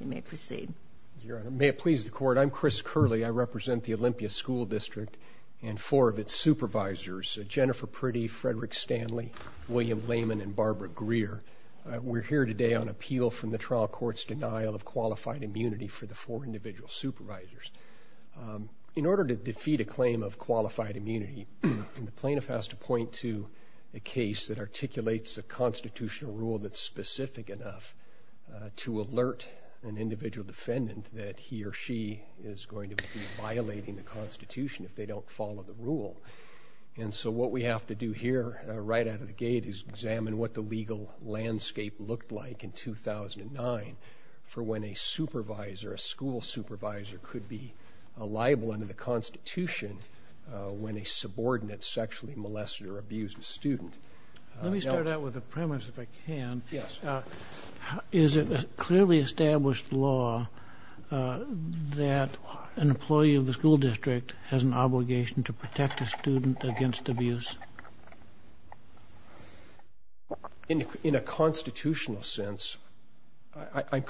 You may proceed. Your Honor, may it please the Court, I'm Chris Curley. I represent the Olympia School District and four of its supervisors, Jennifer Priddy, Frederick Stanley, William Lehman, and Barbara Greer. We're here today on appeal from the trial court's denial of qualified immunity for the four individual supervisors. In order to defeat a claim of qualified immunity, the plaintiff has to point to a case that articulates a constitutional rule that's an individual defendant that he or she is going to be violating the Constitution if they don't follow the rule. And so what we have to do here, right out of the gate, is examine what the legal landscape looked like in 2009 for when a supervisor, a school supervisor, could be a liable under the Constitution when a subordinate sexually molested or abused a student. Let me establish law that an employee of the school district has an obligation to protect a student against abuse. In a constitutional sense, I'm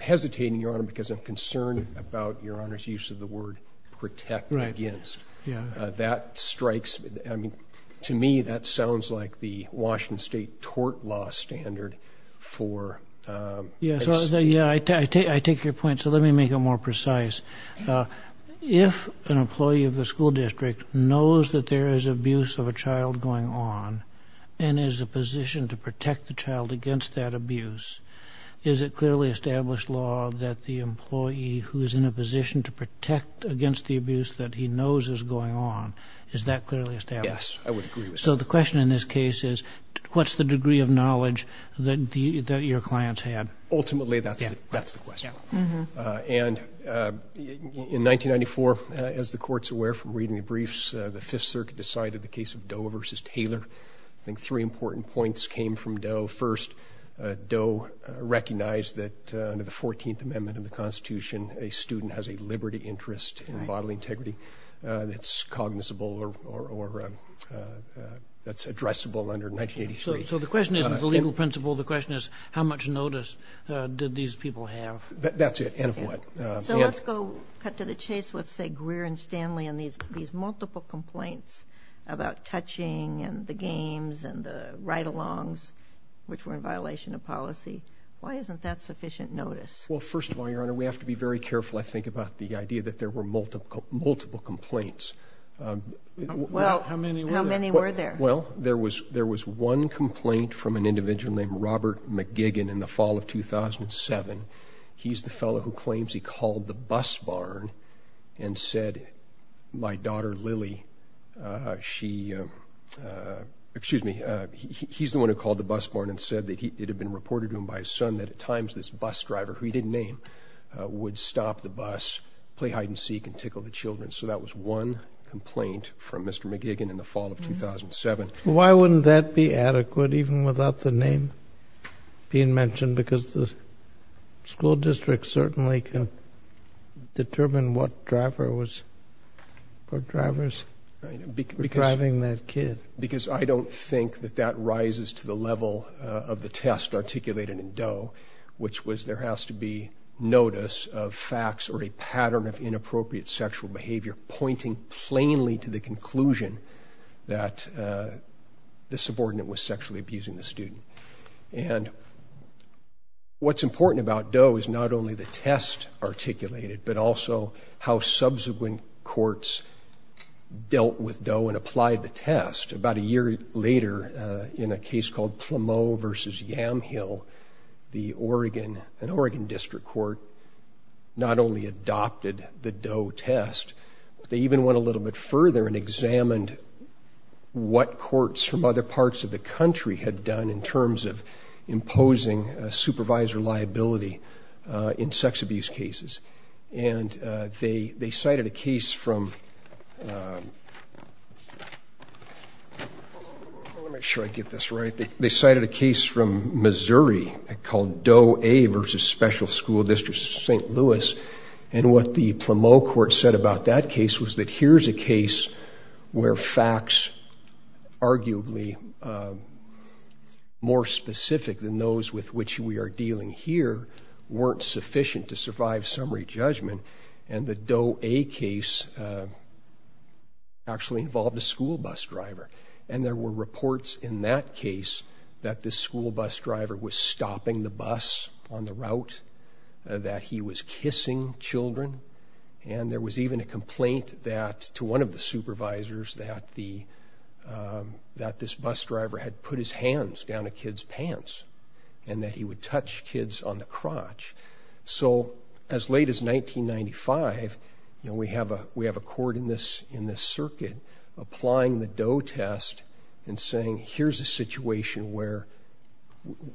hesitating, Your Honor, because I'm concerned about Your Honor's use of the word protect against. That strikes, I mean, to me that sounds like the Washington State tort law standard for... Yeah, I take your point, so let me make it more precise. If an employee of the school district knows that there is abuse of a child going on and is a position to protect the child against that abuse, is it clearly established law that the employee who is in a position to protect against the abuse that he knows is going on, is that clearly established? Yes, I would agree with that. So the question in this case is, what's the degree of knowledge that your clients had? Ultimately, that's the question. And in 1994, as the court's aware from reading the briefs, the Fifth Circuit decided the case of Doe versus Taylor. I think three important points came from Doe. First, Doe recognized that under the 14th Amendment of the Constitution, a student has a liberty, interest, and that's addressable under 1983. So the question isn't the legal principle, the question is how much notice did these people have? That's it, and of what? So let's go cut to the chase with, say, Greer and Stanley and these multiple complaints about touching and the games and the ride-alongs, which were in violation of policy. Why isn't that sufficient notice? Well, first of all, Your Honor, we have to be very careful, I think, about the idea that there were multiple complaints. Well, how many were there? Well, there was one complaint from an individual named Robert McGiggin in the fall of 2007. He's the fellow who claims he called the bus barn and said, my daughter Lily, she, excuse me, he's the one who called the bus barn and said that it had been reported to him by his son that at times this bus driver, who he didn't name, would stop the bus, play hide-and-seek, and Why wouldn't that be adequate, even without the name being mentioned? Because the school district certainly can determine what driver was, what drivers were driving that kid. Because I don't think that that rises to the level of the test articulated in Doe, which was there has to be notice of facts or a pattern of inappropriate sexual behavior pointing plainly to the conclusion that the subordinate was sexually abusing the student. And what's important about Doe is not only the test articulated, but also how subsequent courts dealt with Doe and applied the test. About a year later, in a case called Plumeau versus Yamhill, the Oregon, an Oregon District Court, not only adopted the Doe test, they even went a little bit further and examined what courts from other parts of the country had done in terms of imposing supervisor liability in sex abuse cases. And they cited a case from, let me make sure I get this right, they cited a case from Missouri called Doe A versus Special School District St. Louis, and what the Plumeau court said about that case was that here's a case where facts arguably more specific than those with which we are dealing here weren't sufficient to survive summary judgment, and the Doe A case actually involved a school bus driver. And there were reports in that case that the school bus driver was stopping the bus on the route, that he was kissing children, and there was even a complaint that, to one of the supervisors, that the, that this bus driver had put his hands down a kid's pants and that he would touch kids on the crotch. So as late as 1995, you know, we have a, we have a court in this, in the Doe test and saying here's a situation where,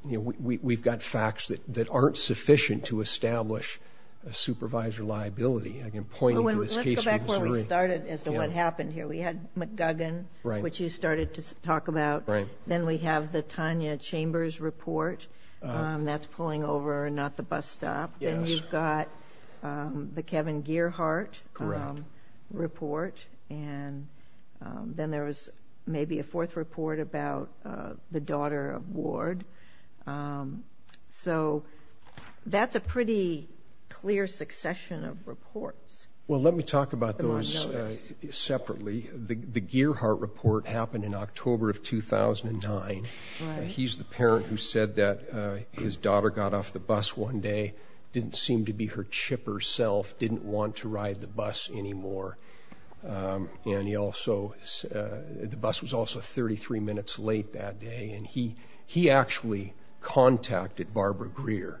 you know, we've got facts that aren't sufficient to establish a supervisor liability. I can point to this case from Missouri. Let's go back to where we started as to what happened here. We had McGuggin, which you started to talk about. Then we have the Tanya Chambers report that's pulling over and not the bus stop. Then you've got the Kevin Gearheart report, and then there was maybe a fourth report about the daughter of Ward. So that's a pretty clear succession of reports. Well, let me talk about those separately. The Gearheart report happened in October of 2009. He's the parent who said that his daughter got off the bus one day, didn't seem to be her chipper self, didn't want to ride the bus anymore. And he also, the bus was also 33 minutes late that day, and he, he actually contacted Barbara Greer.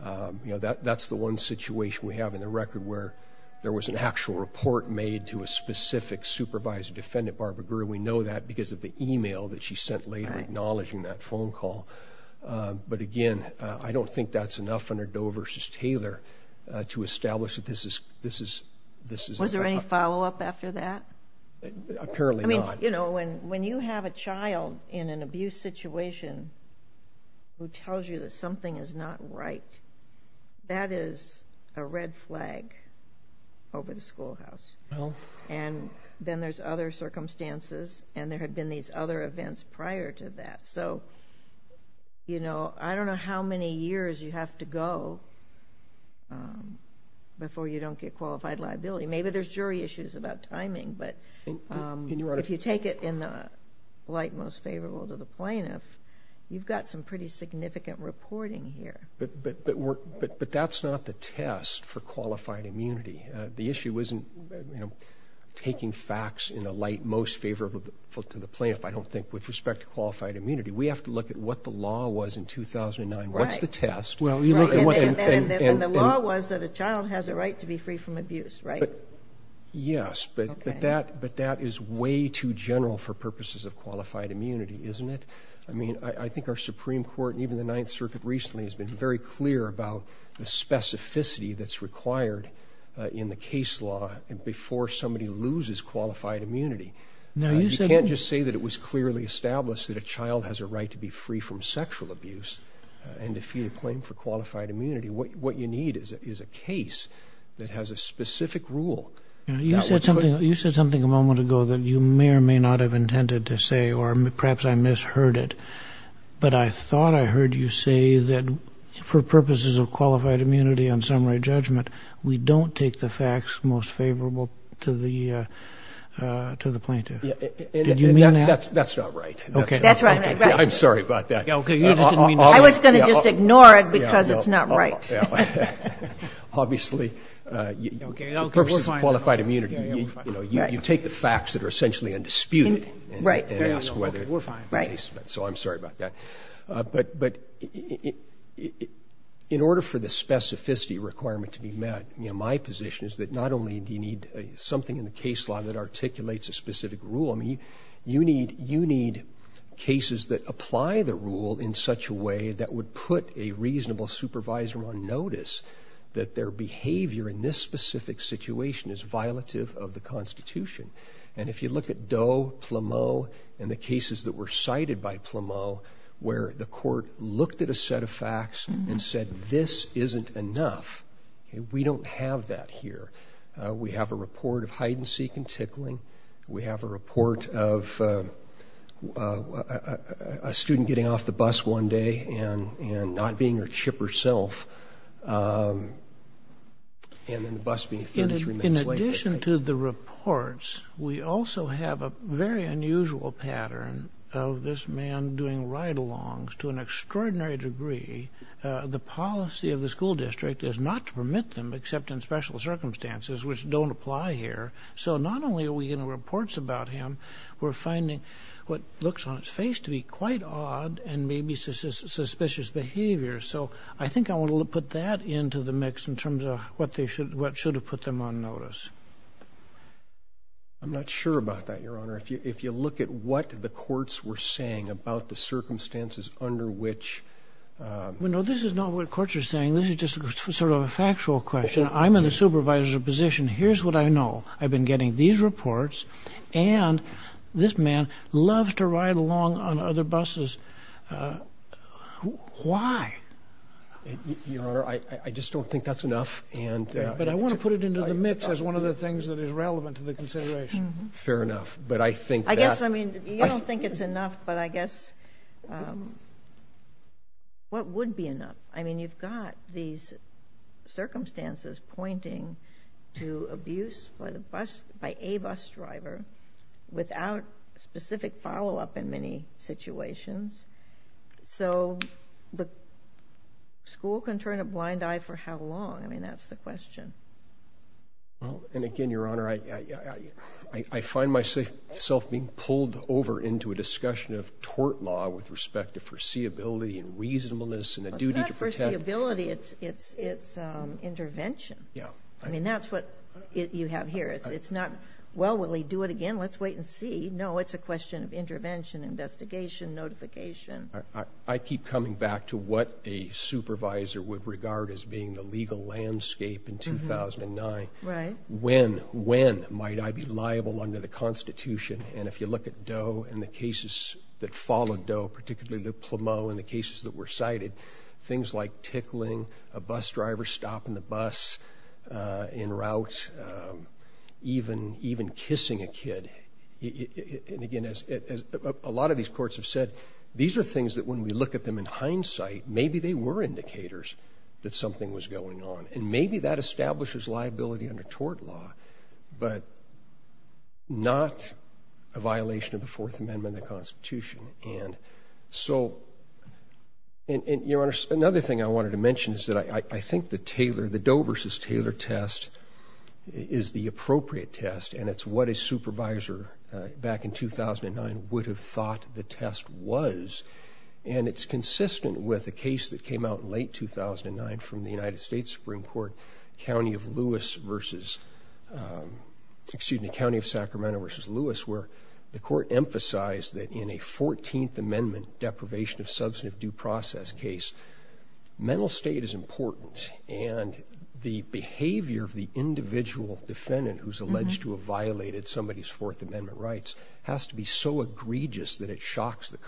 You know, that, that's the one situation we have in the record where there was an actual report made to a specific supervisor defendant, Barbara Greer. We know that because of the email that she I don't think that's enough under Doe versus Taylor to establish that this is, this is, this is. Was there any follow-up after that? Apparently not. I mean, you know, when, when you have a child in an abuse situation who tells you that something is not right, that is a red flag over the schoolhouse. Well. And then there's other circumstances, and there had been these other events prior to that. So, you know, I don't know how many years you have to go before you don't get qualified liability. Maybe there's jury issues about timing, but if you take it in the light most favorable to the plaintiff, you've got some pretty significant reporting here. But, but, but we're, but, but that's not the test for qualified immunity. The issue isn't, you know, taking facts in the light most favorable to the plaintiff, I don't think, with respect to qualified immunity. We have to look at what the law was in 2009. What's the test? And the law was that a child has a right to be free from abuse, right? Yes, but, but that, but that is way too general for purposes of qualified immunity, isn't it? I mean, I think our Supreme Court and even the Ninth Circuit recently has been very clear about the specificity that's required in the case law and before somebody loses qualified immunity. Now, you can't just say that it was clearly established that a child has a right to be free from sexual abuse and to feed a claim for qualified immunity. What, what you need is a case that has a specific rule. You said something, you said something a moment ago that you may or may not have intended to say or perhaps I misheard it, but I thought I heard you say that for purposes of qualified immunity on summary judgment, we don't take the facts most favorable to the, to the plaintiff. Did you mean that? That's not right. Okay. That's right. I'm sorry about that. Okay. You just didn't mean to say it. I was going to just ignore it because it's not right. Obviously, for purposes of qualified immunity, you know, you take the facts that are essentially undisputed and ask whether the case is met. So I'm sorry about that. But, but in order for the specificity requirement to be met, you know, my position is that not only do you need something in the case law that articulates a specific rule, I mean, you need, you need cases that apply the rule in such a way that would put a reasonable supervisor on notice that their behavior in this specific situation is violative of the Constitution. And if you look at Doe, Plameau, and the cases that were cited by Plameau, where the court looked at a set of facts and said this isn't enough, we don't have that here. We have a report of hide-and-seek and tickling. We have a report of a student getting off the bus one day and, and not being her chip herself, and then the bus being 33 minutes late. In addition to the reports, we also have a very unusual pattern of this man doing ride-alongs to an extraordinary degree. The policy of the school district is not to permit them, except in special circumstances, which don't apply here. So not only are we getting reports about him, we're finding what looks on its face to be quite odd and maybe suspicious behavior. So I think I want to put that into the mix in terms of what they should, what should have put them on notice. I'm not sure about that, Your Honor. If you, if you look at what the courts were saying about the No, this is not what courts are saying. This is just sort of a factual question. I'm in the supervisor's position. Here's what I know. I've been getting these reports and this man loves to ride along on other buses. Why? Your Honor, I just don't think that's enough and... But I want to put it into the mix as one of the things that is relevant to the consideration. Fair enough, but I think... I guess, I mean, you don't think it's enough, but I guess what would be enough? I mean, you've got these circumstances pointing to abuse by the bus, by a bus driver without specific follow-up in many situations. So the school can turn a blind eye for how long? I mean, that's the question. And again, Your Honor, I find myself being pulled over into a discussion of tort law with respect to foreseeability and reasonableness and a duty to protect... It's not foreseeability, it's intervention. Yeah. I mean, that's what you have here. It's not, well, will he do it again? Let's wait and see. No, it's a question of intervention, investigation, notification. I keep coming back to what a supervisor would regard as being the legal landscape in 2009. Right. When, when might I be liable under the Constitution? And if you look at Doe and the cases that followed Doe, particularly the Plumeau and the cases that were cited, things like tickling, a bus driver stopping the bus en route, even, even kissing a kid. And again, as a lot of these courts have said, these are things that when we look at them in hindsight, maybe they were indicators that something was going on. And maybe that establishes liability under tort law, but not a violation of the Fourth Amendment of the Constitution. And so, and Your Honor, another thing I wanted to mention is that I think the Taylor, the Doe versus Taylor test is the appropriate test. And it's what a supervisor back in 2009 would have thought the test was. And it's consistent with a case that came out in 2009 from the United States Supreme Court, County of Lewis versus, excuse me, County of Sacramento versus Lewis, where the court emphasized that in a 14th Amendment deprivation of substantive due process case, mental state is important. And the behavior of the individual defendant who's alleged to have violated somebody's Fourth Amendment rights has to be so egregious that it shocks the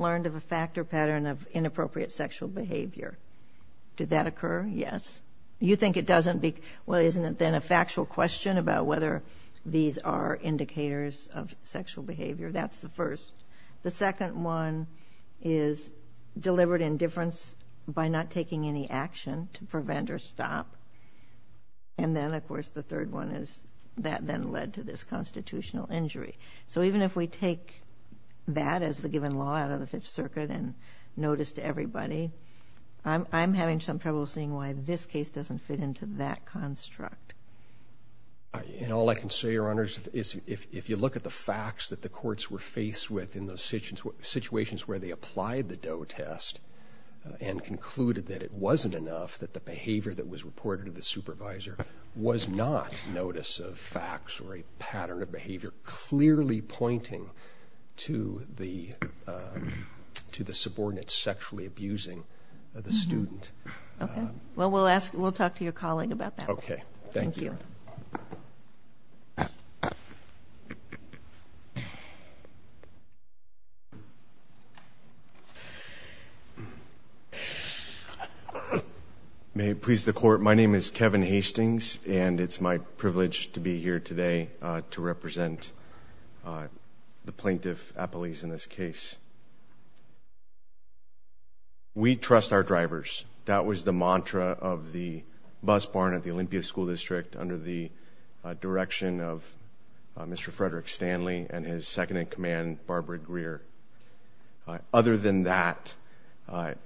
learned of a factor pattern of inappropriate sexual behavior. Did that occur? Yes. You think it doesn't be? Well, isn't it then a factual question about whether these are indicators of sexual behavior? That's the first. The second one is delivered in difference by not taking any action to prevent or stop. And then, of course, the third one is that then led to this Fifth Circuit and notice to everybody. I'm having some trouble seeing why this case doesn't fit into that construct. And all I can say, Your Honors, is if you look at the facts that the courts were faced with in those situations where they applied the Doe test and concluded that it wasn't enough, that the behavior that was reported to the supervisor was not notice of facts or a pattern of to the to the subordinates sexually abusing the student. Okay, well, we'll ask. We'll talk to your colleague about that. Okay. Thank you. May it please the court. My name is Kevin Hastings, and it's my privilege to be here today to represent the plaintiff appellees in this case. We trust our drivers. That was the mantra of the bus barn at the Olympia School District under the direction of Mr Frederick Stanley and his second in command, Barbara Greer. Other than that, Mr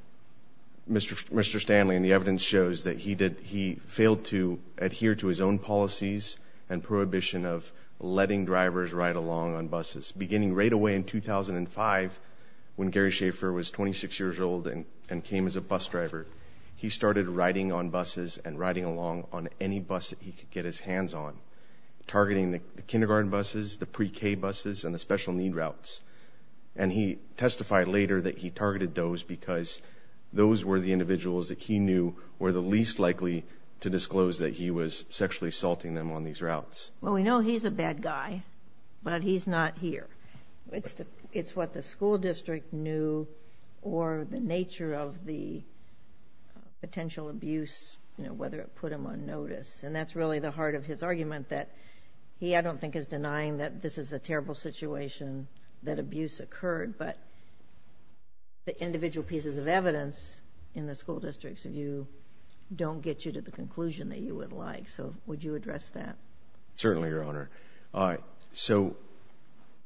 Mr Stanley and the evidence shows that he did. He failed to adhere to his own policies and prohibition of letting drivers ride along on buses beginning right away in 2005 when Gary Schaefer was 26 years old and came as a bus driver. He started riding on buses and riding along on any bus that he could get his hands on targeting the kindergarten buses, the pre K buses and the special need routes. And he testified later that he targeted those because those were the individuals that he knew were the least likely to assaulting them on these routes. Well, we know he's a bad guy, but he's not here. It's what the school district knew or the nature of the potential abuse, whether it put him on notice. And that's really the heart of his argument that he I don't think is denying that this is a terrible situation that abuse occurred. But the individual pieces of evidence in the school districts of you don't get you to the conclusion that you would like. So would you address that? Certainly, Your Honor. So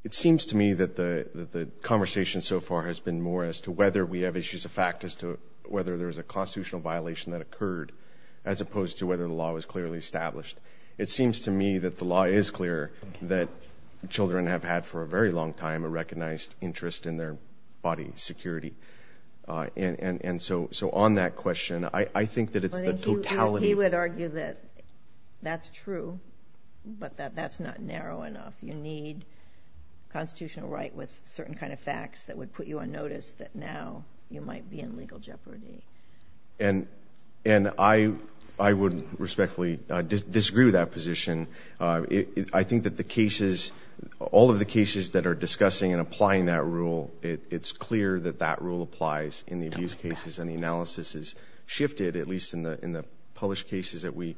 it seems to me that the conversation so far has been more as to whether we have issues of fact as to whether there is a constitutional violation that occurred as opposed to whether the law was clearly established. It seems to me that the law is clear that Children have had for a very long time a recognized interest in their body security. And so on that question, I think that it's the totality. He would argue that that's true, but that's not narrow enough. You need constitutional right with certain kind of facts that would put you on notice that now you might be in legal jeopardy. And I would respectfully disagree with that position. I think that the cases, all of the cases that are discussing and that that rule applies in the abuse cases and the analysis is shifted, at least in the published cases that we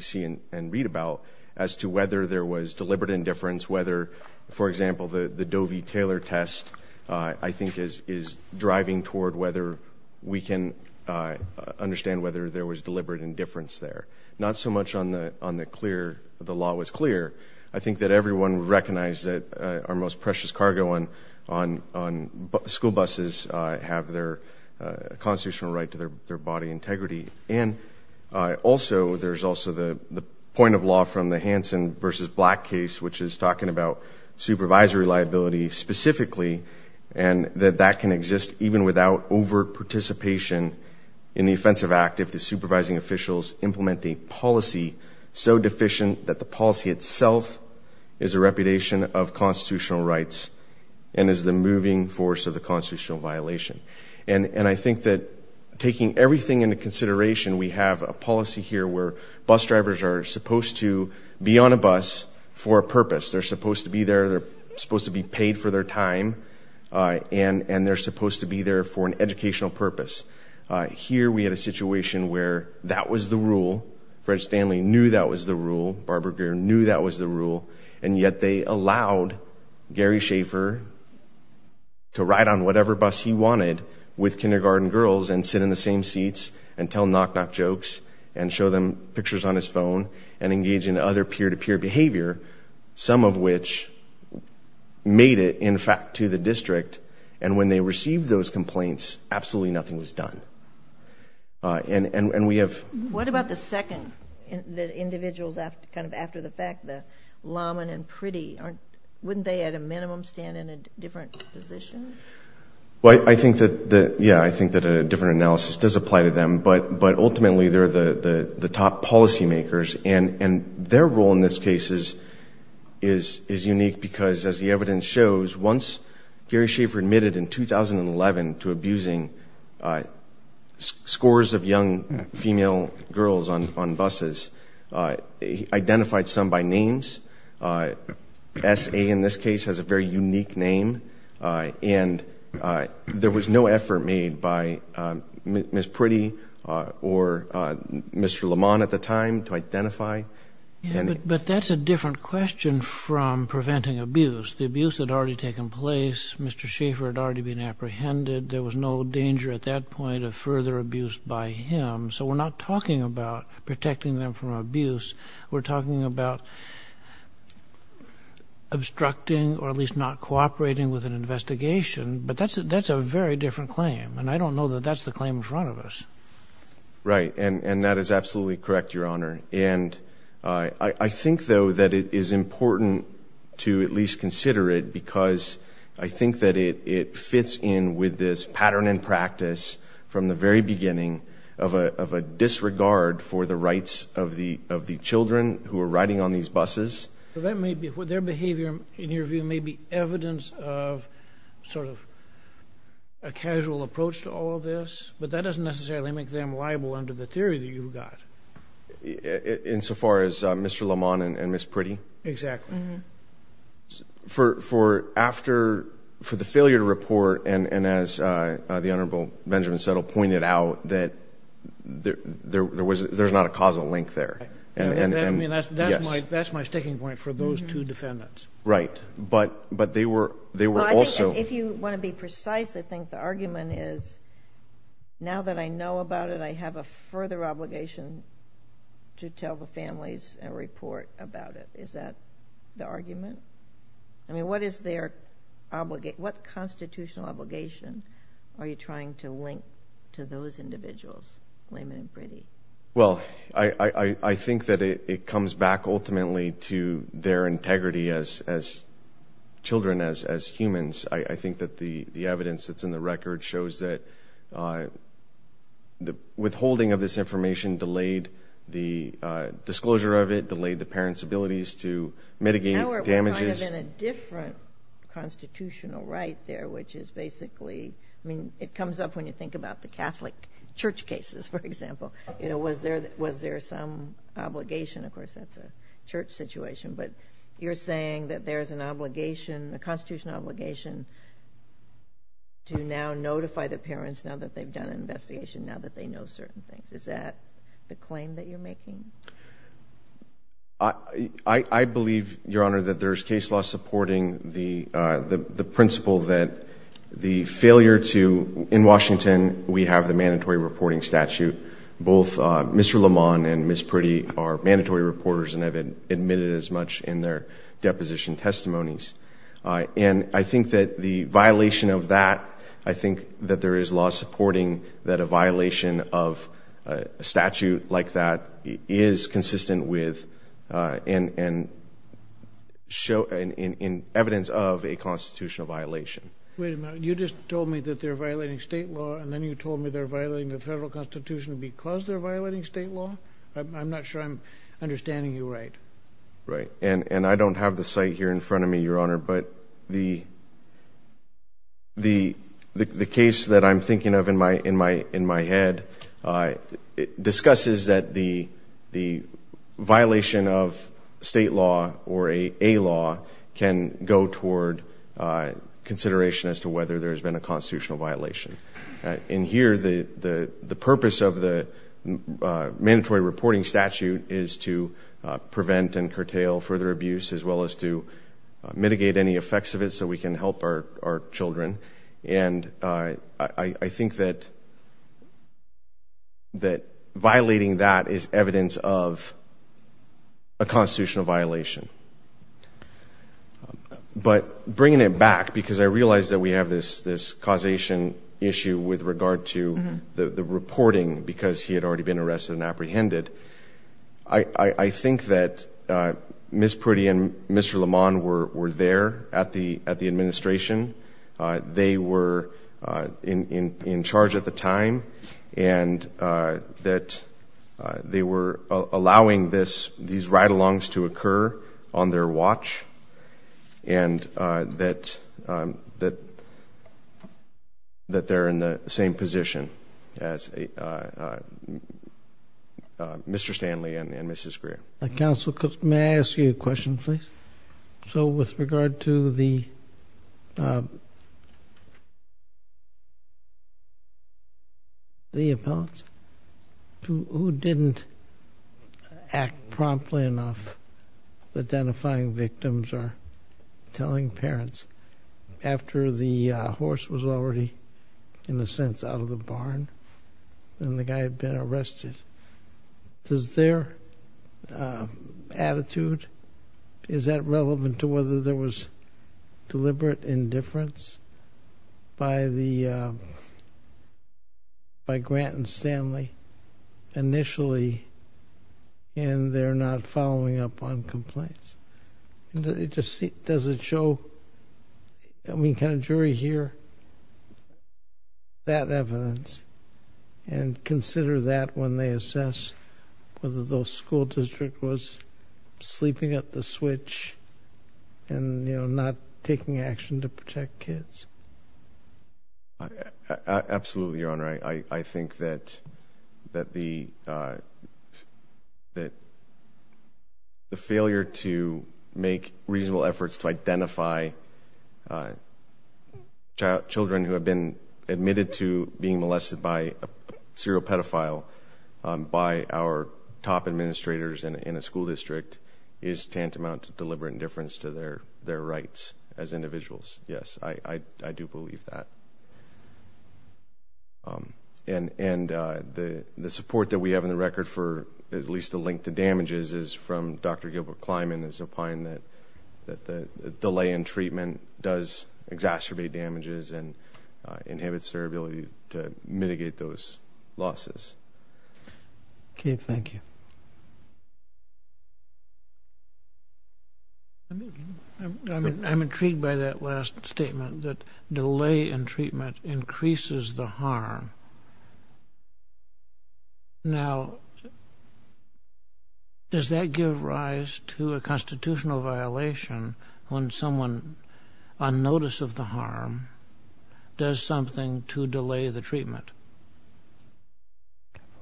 see and read about, as to whether there was deliberate indifference, whether, for example, the Doe v. Taylor test, I think, is driving toward whether we can understand whether there was deliberate indifference there. Not so much on the clear, the law was clear. I think that everyone would recognize that our most precious cargo on school buses have their constitutional right to their body integrity. And also, there's also the point of law from the Hansen v. Black case, which is talking about supervisory liability specifically, and that that can exist even without over participation in the Offensive Act if the supervising officials implement the policy so deficient that the policy itself is a repudiation of constitutional rights and is the moving force of the constitutional violation. And I think that taking everything into consideration, we have a policy here where bus drivers are supposed to be on a bus for a purpose. They're supposed to be there, they're supposed to be paid for their time, and they're supposed to be there for an educational purpose. Here we had a situation where that was the rule. Fred Stanley knew that was the allowed Gary Schaefer to ride on whatever bus he wanted with kindergarten girls and sit in the same seats and tell knock-knock jokes and show them pictures on his phone and engage in other peer-to-peer behavior, some of which made it, in fact, to the district. And when they received those complaints, absolutely nothing was done. And we have... What about the second, the wouldn't they at a minimum stand in a different position? Well, I think that, yeah, I think that a different analysis does apply to them, but ultimately they're the top policymakers. And their role in this case is unique because, as the evidence shows, once Gary Schaefer admitted in 2011 to abusing scores of young female girls on buses, he identified some by names. S.A. in this case has a very unique name. And there was no effort made by Miss Pretty or Mr. Lamont at the time to identify. But that's a different question from preventing abuse. The abuse had already taken place. Mr. Schaefer had already been apprehended. There was no danger at that point of further abuse by him. So we're not talking about protecting them from abuse. We're talking about obstructing or at least not cooperating with an investigation. But that's a very different claim. And I don't know that that's the claim in front of us. Right. And that is absolutely correct, Your Honor. And I think, though, that it is in with this pattern and practice from the very beginning of a disregard for the rights of the children who are riding on these buses. So that may be what their behavior, in your view, may be evidence of sort of a casual approach to all of this. But that doesn't necessarily make them liable under the theory that you've got. Insofar as Mr. Lamont and Miss Pretty? Exactly. For after, for the failure to report, and as the Honorable Benjamin Settle pointed out, that there was, there's not a causal link there. And that's my sticking point for those two defendants. Right. But, but they were, they were also. If you want to be precise, I think the argument is, now that I know about it, I have a further obligation to tell the families and report about it. Is that the argument? I mean, what is their obligation? What constitutional obligation are you trying to link to those individuals, Lamont and Pretty? Well, I think that it comes back ultimately to their integrity as children, as humans. I think that the evidence that's in the record shows that the withholding of this information delayed the disclosure of it, delayed the parents' abilities to mitigate damages. Now we're kind of in a different constitutional right there, which is basically, I mean, it comes up when you think about the Catholic church cases, for example. You know, was there, was there some obligation? Of course, that's a church situation, but you're saying that there's an obligation, a constitutional obligation, to now notify the parents now that they've done an investigation, now that they know certain things. Is that the claim that you're that there's case law supporting the principle that the failure to, in Washington, we have the mandatory reporting statute. Both Mr. Lamont and Ms. Pretty are mandatory reporters and have admitted as much in their deposition testimonies. And I think that the violation of that, I think that there is law supporting that a violation of a statute like that is consistent with, in evidence of a constitutional violation. Wait a minute, you just told me that they're violating state law and then you told me they're violating the federal constitution because they're violating state law? I'm not sure I'm understanding you right. Right, and I don't have the site here in front of me, Your Honor, but the case that I'm thinking of in my head, it discusses that the violation of state law or a law can go toward consideration as to whether there's been a constitutional violation. In here, the purpose of the mandatory reporting statute is to prevent and curtail further abuse as well as to mitigate any effects of it so we can help our children. And I think that violating that is evidence of a constitutional violation. But bringing it back, because I realize that we have this causation issue with regard to the reporting because he had already been arrested and apprehended. I think that Ms. Pretty and Mr. Lamont were there at the administration. They were in charge at the time and that they were allowing these ride-alongs to occur on their watch and that they're in the same position as Mr. Stanley and Mrs. Greer. Counsel, may I ask you a question, please? So, with regard to the the appellants, who didn't act promptly enough, identifying victims or telling parents after the horse was already, in a sense, out of the barn and the guy had been arrested, does their attitude, is that relevant to whether there was deliberate indifference by Grant and Stanley initially in their not following up on complaints? Does it show, can a jury hear that and consider that when they assess whether the school district was sleeping at the switch and, you know, not taking action to protect kids? Absolutely, Your Honor. I think that the failure to make reasonable efforts to identify a pedophile by our top administrators in a school district is tantamount to deliberate indifference to their rights as individuals. Yes, I do believe that. And the support that we have in the record for, at least the link to damages, is from Dr. Gilbert Kleinman is opine that the delay in treatment does exacerbate damages and inhibits their ability to mitigate those losses. Okay, thank you. I'm intrigued by that last statement that delay in treatment increases the harm. Now, does that give rise to a constitutional violation when someone on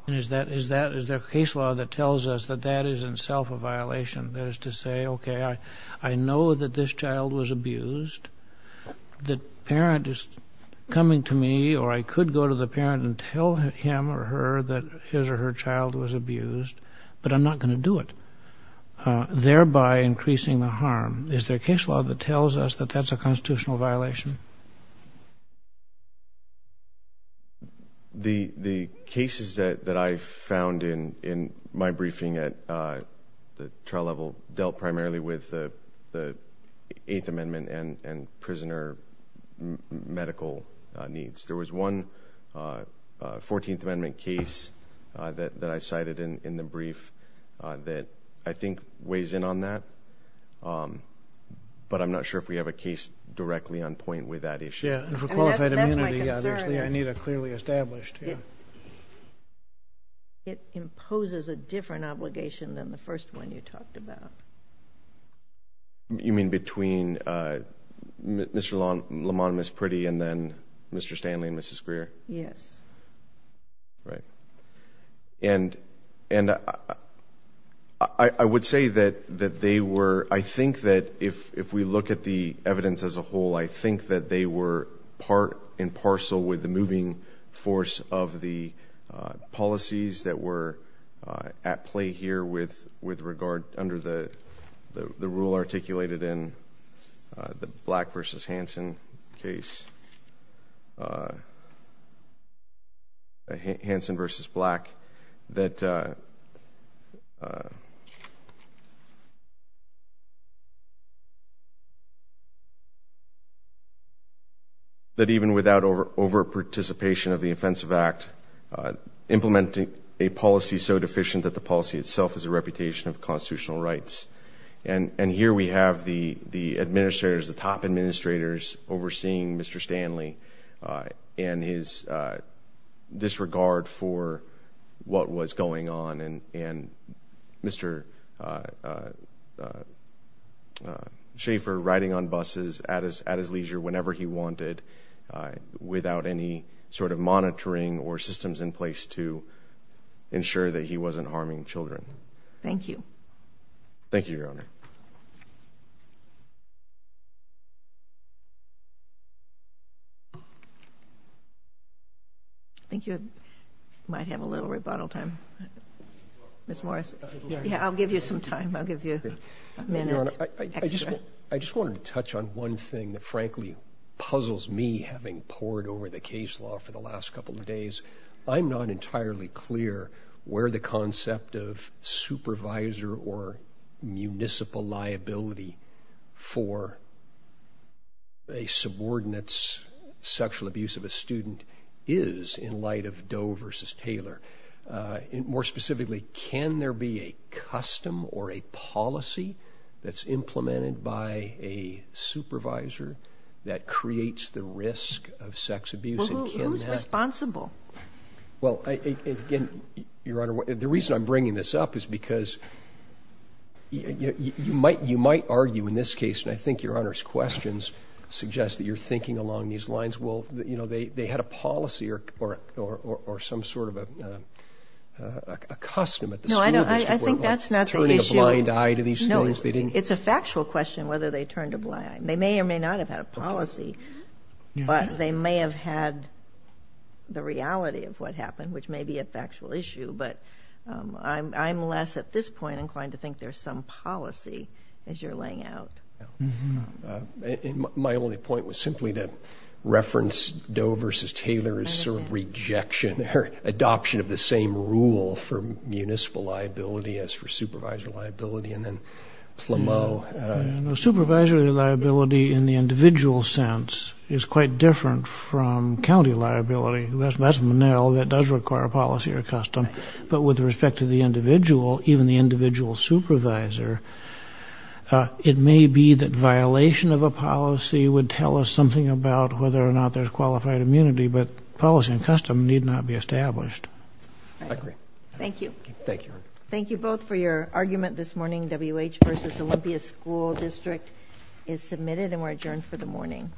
Is that, is that, is there a case law that tells us that that is in itself a violation? That is to say, okay, I know that this child was abused. The parent is coming to me, or I could go to the parent and tell him or her that his or her child was abused, but I'm not going to do it, thereby increasing the harm. Is there cases that I found in my briefing at the trial level dealt primarily with the Eighth Amendment and prisoner medical needs? There was one 14th Amendment case that I cited in the brief that I think weighs in on that, but I'm not sure if we have a case directly on point with that issue. Yeah, for qualified It imposes a different obligation than the first one you talked about. You mean between Mr. Lamont and Ms. Priddy and then Mr. Stanley and Mrs. Greer? Yes. Right. And I would say that they were, I think that if we look at the evidence as a whole, I think that they were part and parcel with the moving force of the policies that were at play here with regard, under the rule articulated in the Black v. Hansen case, Hansen v. Black, that even without over-participation of the Offensive Act, implementing a policy so deficient that the policy itself has a reputation of constitutional rights. And here we have the administrators, the top administrators, overseeing Mr. Stanley and his disregard for what was going on and Mr. Schaefer riding on buses at his leisure whenever he wanted, without any sort of monitoring or systems in place to ensure that he wasn't harming children. Thank you. Thank you, Your Honor. I think you might have a little rebuttal time. Ms. Morris. Yeah, I'll give you some time. I'll give you a minute. I just wanted to touch on one thing that frankly puzzles me, having poured over the case law for the last couple of days. I'm not entirely clear where the concept of supervisor or municipal liability for a sexual abuse of a student is in light of Doe v. Taylor. More specifically, can there be a custom or a policy that's implemented by a supervisor that creates the risk of sex abuse? Who's responsible? Well, again, Your Honor, the reason I'm bringing this up is because you might argue in this case, and I think Your Honor's lines, well, you know, they had a policy or some sort of a custom at the school district where they were turning a blind eye to these things. No, I think that's not the issue. No, it's a factual question whether they turned a blind. They may or may not have had a policy, but they may have had the reality of what happened, which may be a factual issue, but I'm less, at this point, inclined to think there's some policy as you're laying out. My only point was simply to reference Doe v. Taylor's sort of rejection or adoption of the same rule for municipal liability as for supervisor liability and then Plameau. Supervisory liability in the individual sense is quite different from county liability. That's Manil that does require a policy or a custom, but with respect to the individual, even the individual supervisor, it may be that there's something about whether or not there's qualified immunity, but policy and custom need not be established. I agree. Thank you. Thank you. Thank you both for your argument this morning. WH v. Olympia School District is submitted and we're adjourned for the morning.